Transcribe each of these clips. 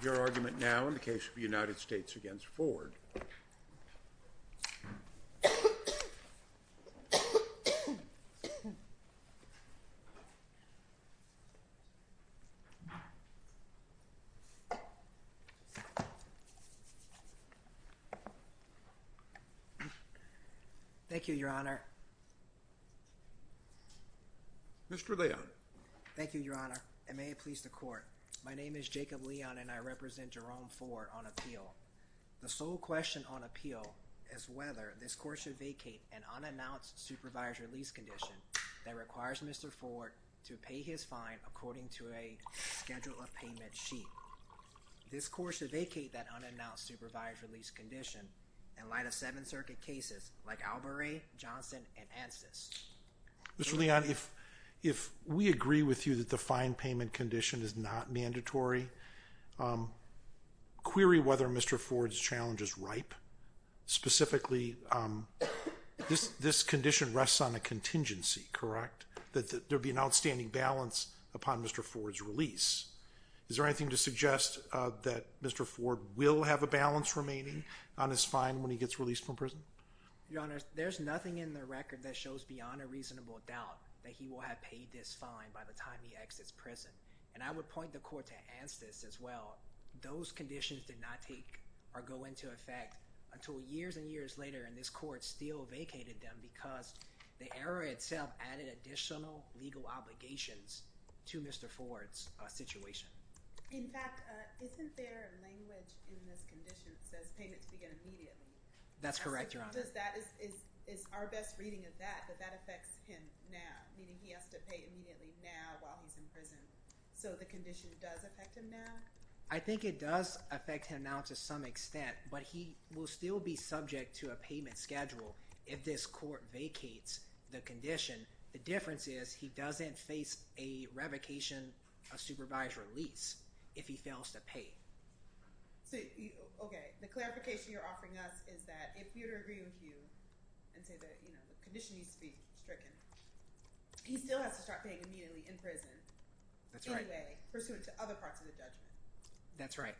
Your argument now in the case of the United States v. Ford. Thank you, Your Honor. Mr. Leon. Thank you, Your Honor, and may it please the Court, my name is Jacob Leon and I represent Jerome Ford on appeal. The sole question on appeal is whether this Court should vacate an unannounced supervised release condition that requires Mr. Ford to pay his fine according to a schedule of payment sheet. This Court should vacate that unannounced supervised release condition in light of Seventh Circuit cases like Albarré, Johnson, and Ansys. Mr. Leon, if we agree with you that the fine payment condition is not mandatory, query whether Mr. Ford's challenge is ripe. Specifically, this condition rests on a contingency, correct? That there be an outstanding balance upon Mr. Ford's release. Is there anything to suggest that Mr. Ford will have a balance remaining on his fine when he gets released from prison? Your Honor, there's nothing in the record that shows beyond a reasonable doubt that he will have paid this fine by the time he exits prison, and I would point the Court to Ansys as well. Those conditions did not take or go into effect until years and years later, and this Court still vacated them because the error itself added additional legal obligations to Mr. Ford's situation. In fact, isn't there language in this condition that says payment to begin immediately? That's correct, Your Honor. Because that is our best reading of that, but that affects him now, meaning he has to pay immediately now while he's in prison, so the condition does affect him now? I think it does affect him now to some extent, but he will still be subject to a payment schedule if this Court vacates the condition. The difference is he doesn't face a revocation of supervised release if he fails to pay. So, okay, the clarification you're offering us is that if we were to agree with you and say that, you know, the condition needs to be stricken, he still has to start paying immediately in prison anyway pursuant to other parts of the judgment. That's right.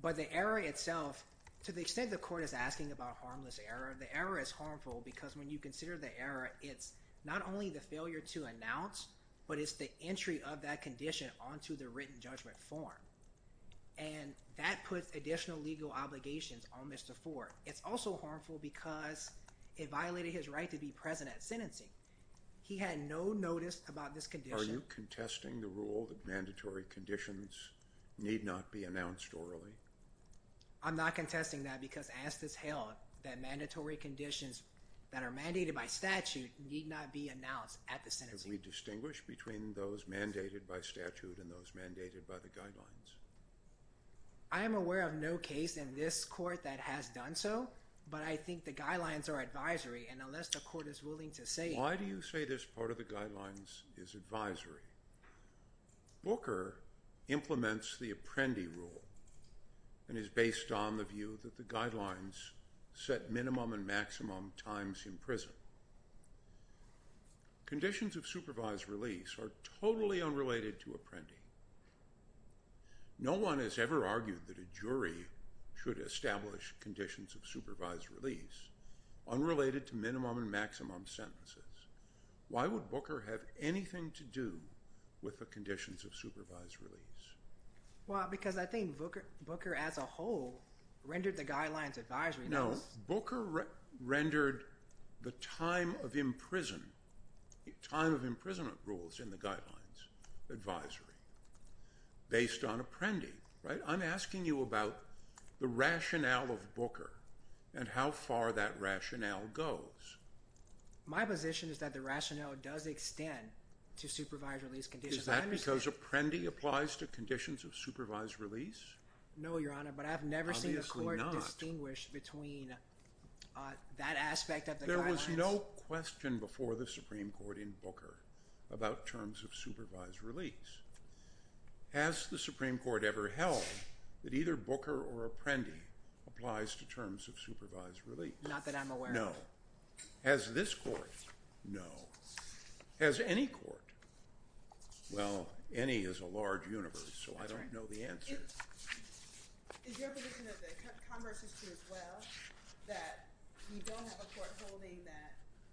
But the error itself, to the extent the Court is asking about harmless error, the error is harmful because when you consider the error, it's not only the failure to announce, but it's the entry of that condition onto the written judgment form, and that puts additional legal obligations on Mr. Ford. It's also harmful because it violated his right to be present at sentencing. He had no notice about this condition. Are you contesting the rule that mandatory conditions need not be announced orally? I'm not contesting that because Anstis held that mandatory conditions that are mandated by statute need not be announced at the sentencing. Can we distinguish between those mandated by statute and those mandated by the guidelines? I am aware of no case in this Court that has done so, but I think the guidelines are advisory, and unless the Court is willing to say— Why do you say this part of the guidelines is advisory? Booker implements the Apprendi rule and is based on the view that the guidelines set minimum and maximum times in prison. Conditions of supervised release are totally unrelated to Apprendi. No one has ever argued that a jury should establish conditions of supervised release unrelated to minimum and maximum sentences. Why would Booker have anything to do with the conditions of supervised release? Well, because I think Booker as a whole rendered the guidelines advisory. No, Booker rendered the time of imprisonment rules in the guidelines advisory based on Apprendi. I'm asking you about the rationale of Booker and how far that rationale goes. My position is that the rationale does extend to supervised release conditions. Is that because Apprendi applies to conditions of supervised release? No, Your Honor, but I've never seen the Court distinguish between that aspect of the guidelines. There was no question before the Supreme Court in Booker about terms of supervised release. Has the Supreme Court ever held that either Booker or Apprendi applies to terms of supervised release? Not that I'm aware of. No. Has this Court? No. Has any Court? Well, any is a large universe, so I don't know the answer. Is your position that the converse is true as well, that we don't have a Court holding that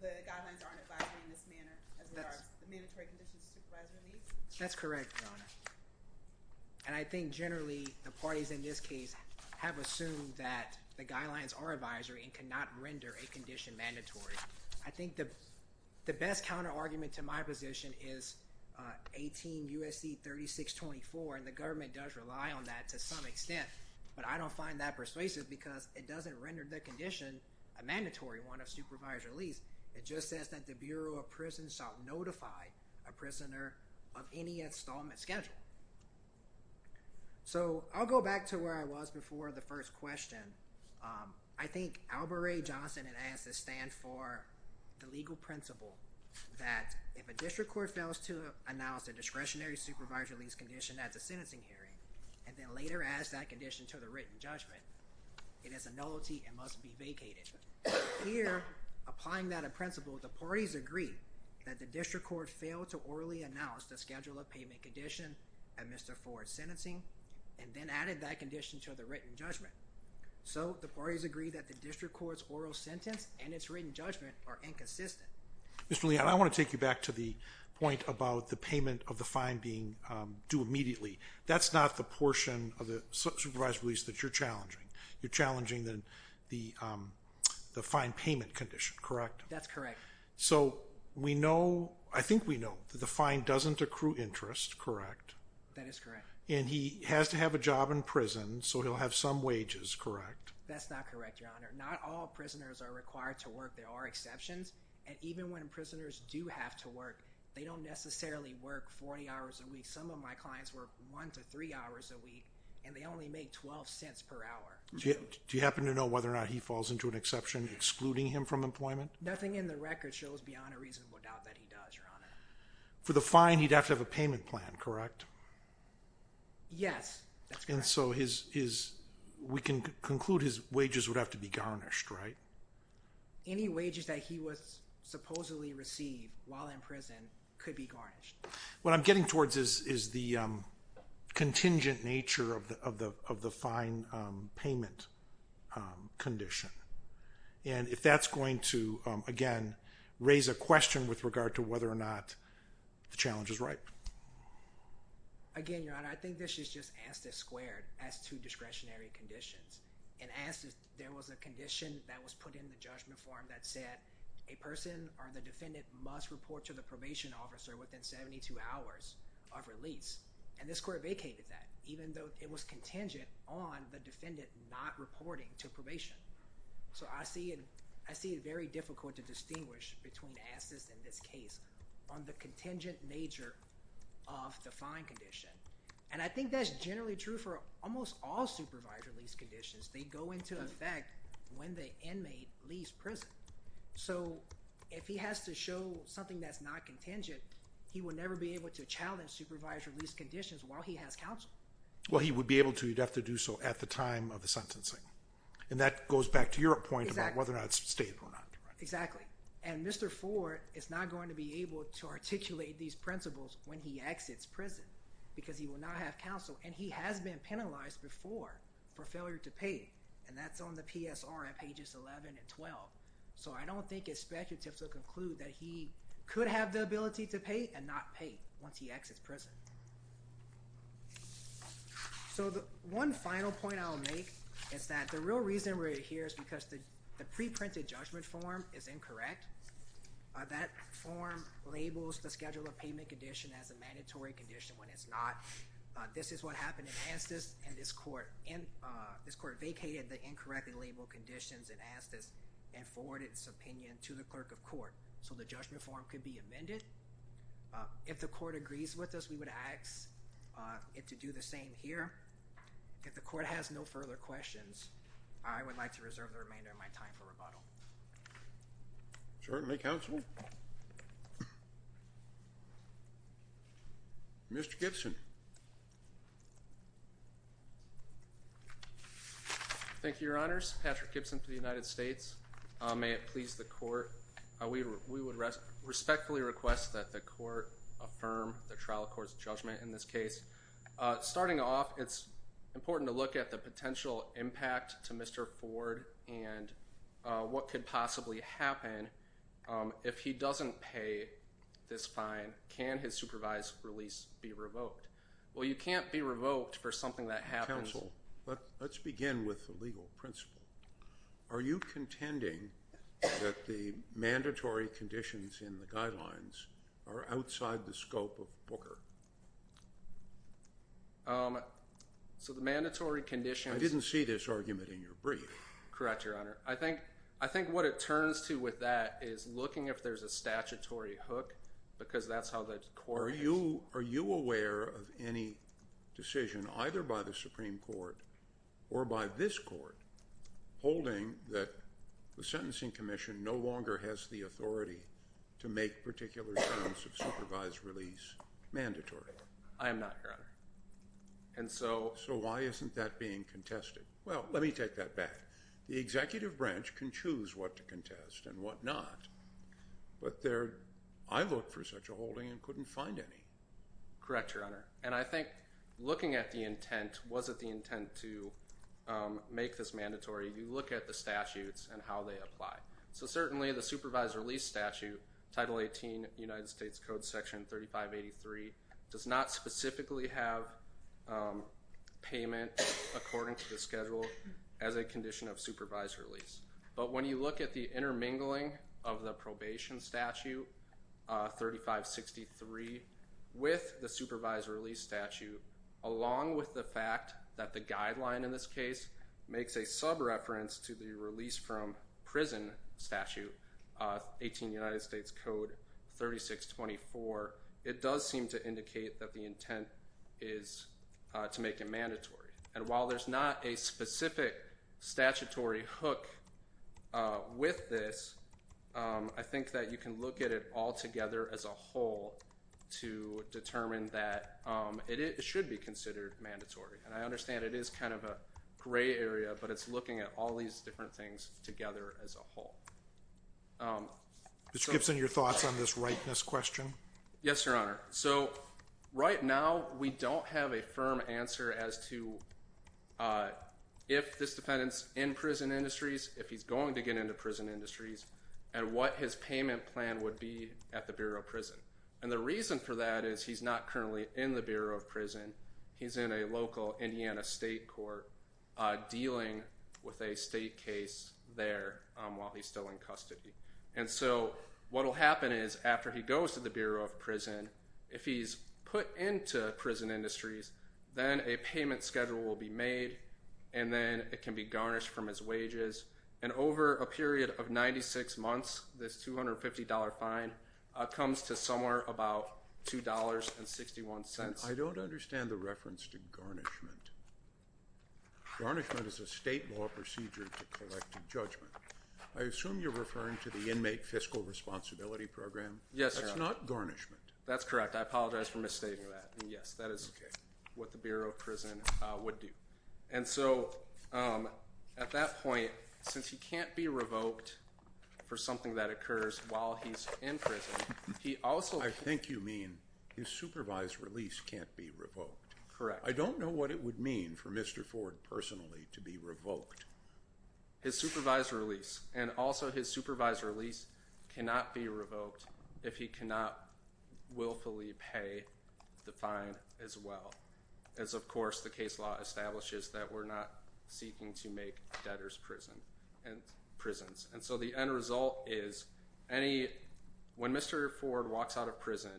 the guidelines aren't advisory in this manner as far as the mandatory conditions of supervised release? That's correct, Your Honor. And I think generally the parties in this case have assumed that the guidelines are advisory and cannot render a condition mandatory. I think the best counterargument to my position is 18 U.S.C. 3624, and the government does rely on that to some extent, but I don't find that persuasive because it doesn't render the condition a mandatory one of supervised release. It just says that the Bureau of Prisons shall notify a prisoner of any installment schedule. So I'll go back to where I was before the first question. I think Albert A. Johnson had asked to stand for the legal principle that if a district court fails to announce a discretionary supervised release condition at the sentencing hearing and then later adds that condition to the written judgment, it is a nullity and must be vacated. Here, applying that principle, the parties agree that the district court failed to orally announce the schedule of payment condition at Mr. Ford's sentencing and then added that condition to the written judgment. So the parties agree that the district court's oral sentence and its written judgment are inconsistent. Mr. Leon, I want to take you back to the point about the payment of the fine being due immediately. That's not the portion of the supervised release that you're challenging. You're challenging the fine payment condition, correct? That's correct. So we know, I think we know, that the fine doesn't accrue interest, correct? That is correct. And he has to have a job in prison, so he'll have some wages, correct? That's not correct, Your Honor. Not all prisoners are required to work. There are exceptions, and even when prisoners do have to work, they don't necessarily work 40 hours a week. Some of my clients work one to three hours a week, and they only make 12 cents per hour. Do you happen to know whether or not he falls into an exception excluding him from employment? Nothing in the record shows beyond a reasonable doubt that he does, Your Honor. For the fine, he'd have to have a payment plan, correct? Yes, that's correct. And so we can conclude his wages would have to be garnished, right? Any wages that he would supposedly receive while in prison could be garnished. What I'm getting towards is the contingent nature of the fine payment condition. And if that's going to, again, raise a question with regard to whether or not the challenge is right. Again, Your Honor, I think this is just ASTIS squared as to discretionary conditions. In ASTIS, there was a condition that was put in the judgment form that said a person or the defendant must report to the probation officer within 72 hours of release. And this court vacated that, even though it was contingent on the defendant not reporting to probation. So I see it very difficult to distinguish between ASTIS and this case on the contingent nature of the fine condition. And I think that's generally true for almost all supervisory release conditions. They go into effect when the inmate leaves prison. So if he has to show something that's not contingent, he would never be able to challenge supervisory release conditions while he has counsel. Well, he would be able to. He'd have to do so at the time of the sentencing. And that goes back to your point about whether or not it's stated or not. Exactly. And Mr. Ford is not going to be able to articulate these principles when he exits prison because he will not have counsel. And he has been penalized before for failure to pay, and that's on the PSR at pages 11 and 12. So I don't think it's speculative to conclude that he could have the ability to pay and not pay once he exits prison. So one final point I'll make is that the real reason we're here is because the preprinted judgment form is incorrect. That form labels the schedule of payment condition as a mandatory condition when it's not. This is what happened in ASTIS, and this court vacated the incorrectly labeled conditions in ASTIS. And forwarded its opinion to the clerk of court so the judgment form could be amended. If the court agrees with us, we would ask it to do the same here. If the court has no further questions, I would like to reserve the remainder of my time for rebuttal. Certainly, counsel. Mr. Gibson. Thank you, Your Honors. Patrick Gibson for the United States. May it please the court, we would respectfully request that the court affirm the trial court's judgment in this case. Starting off, it's important to look at the potential impact to Mr. Ford and what could possibly happen if he doesn't pay this fine. Can his supervised release be revoked? Well, you can't be revoked for something that happens. Counsel, let's begin with the legal principle. Are you contending that the mandatory conditions in the guidelines are outside the scope of Booker? So the mandatory conditions. I didn't see this argument in your brief. Correct, Your Honor. I think what it turns to with that is looking if there's a statutory hook because that's how the court is. Are you aware of any decision either by the Supreme Court or by this court holding that the Sentencing Commission no longer has the authority to make particular terms of supervised release mandatory? I am not, Your Honor. So why isn't that being contested? Well, let me take that back. The executive branch can choose what to contest and what not, but I looked for such a holding and couldn't find any. Correct, Your Honor. And I think looking at the intent, was it the intent to make this mandatory? You look at the statutes and how they apply. So certainly the supervised release statute, Title 18, United States Code Section 3583, does not specifically have payment according to the schedule as a condition of supervised release. But when you look at the intermingling of the probation statute, 3563, with the supervised release statute, along with the fact that the guideline in this case makes a sub-reference to the release from prison statute, 18 United States Code 3624, it does seem to indicate that the intent is to make it mandatory. And while there's not a specific statutory hook with this, I think that you can look at it all together as a whole to determine that it should be considered mandatory. And I understand it is kind of a gray area, but it's looking at all these different things together as a whole. Mr. Gibson, your thoughts on this rightness question? Yes, Your Honor. So right now we don't have a firm answer as to if this defendant's in prison industries, if he's going to get into prison industries, and what his payment plan would be at the Bureau of Prison. And the reason for that is he's not currently in the Bureau of Prison. He's in a local Indiana state court dealing with a state case there while he's still in custody. And so what will happen is after he goes to the Bureau of Prison, if he's put into prison industries, then a payment schedule will be made, and then it can be garnished from his wages. And over a period of 96 months, this $250 fine comes to somewhere about $2.61. I don't understand the reference to garnishment. Garnishment is a state law procedure to collect a judgment. I assume you're referring to the inmate fiscal responsibility program. Yes, Your Honor. That's not garnishment. That's correct. I apologize for misstating that. Yes, that is what the Bureau of Prison would do. And so at that point, since he can't be revoked for something that occurs while he's in prison, he also— I think you mean his supervised release can't be revoked. Correct. I don't know what it would mean for Mr. Ford personally to be revoked. His supervised release and also his supervised release cannot be revoked if he cannot willfully pay the fine as well, as, of course, the case law establishes that we're not seeking to make debtors prisons. And so the end result is when Mr. Ford walks out of prison,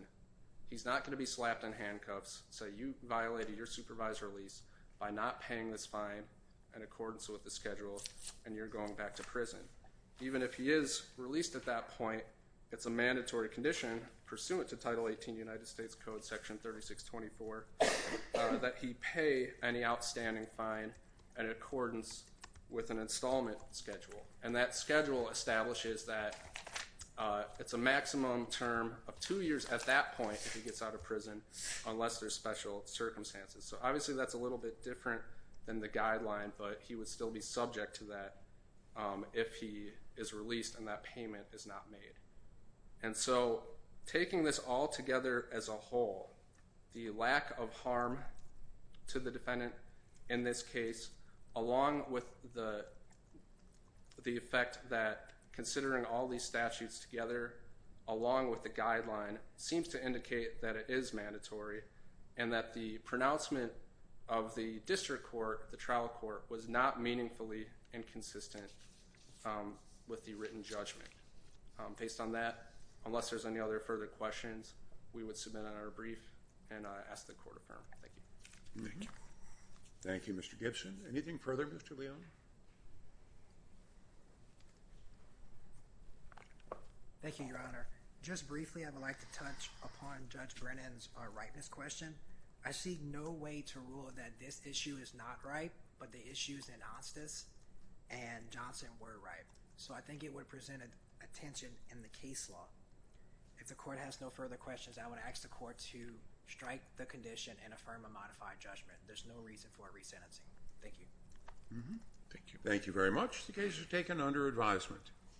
he's not going to be slapped in handcuffs, say, you violated your supervised release by not paying this fine in accordance with the schedule, and you're going back to prison. Even if he is released at that point, it's a mandatory condition pursuant to Title 18 United States Code Section 3624 that he pay any outstanding fine in accordance with an installment schedule. And that schedule establishes that it's a maximum term of two years at that point if he gets out of prison, unless there's special circumstances. So obviously that's a little bit different than the guideline, but he would still be subject to that if he is released and that payment is not made. And so taking this all together as a whole, the lack of harm to the defendant in this case, along with the effect that considering all these statutes together along with the guideline, seems to indicate that it is mandatory and that the pronouncement of the district court, the trial court, was not meaningfully inconsistent with the written judgment Based on that, unless there's any other further questions, we would submit on our brief and ask the court to affirm. Thank you. Thank you, Mr. Gibson. Anything further, Mr. Leone? Thank you, Your Honor. Just briefly, I would like to touch upon Judge Brennan's ripeness question. I see no way to rule that this issue is not ripe, but the issues in Hostess and Johnson were ripe. So I think it would present a tension in the case law. If the court has no further questions, I would ask the court to strike the condition and affirm a modified judgment. There's no reason for resentencing. Thank you. Thank you. Thank you very much. The case is taken under advisement.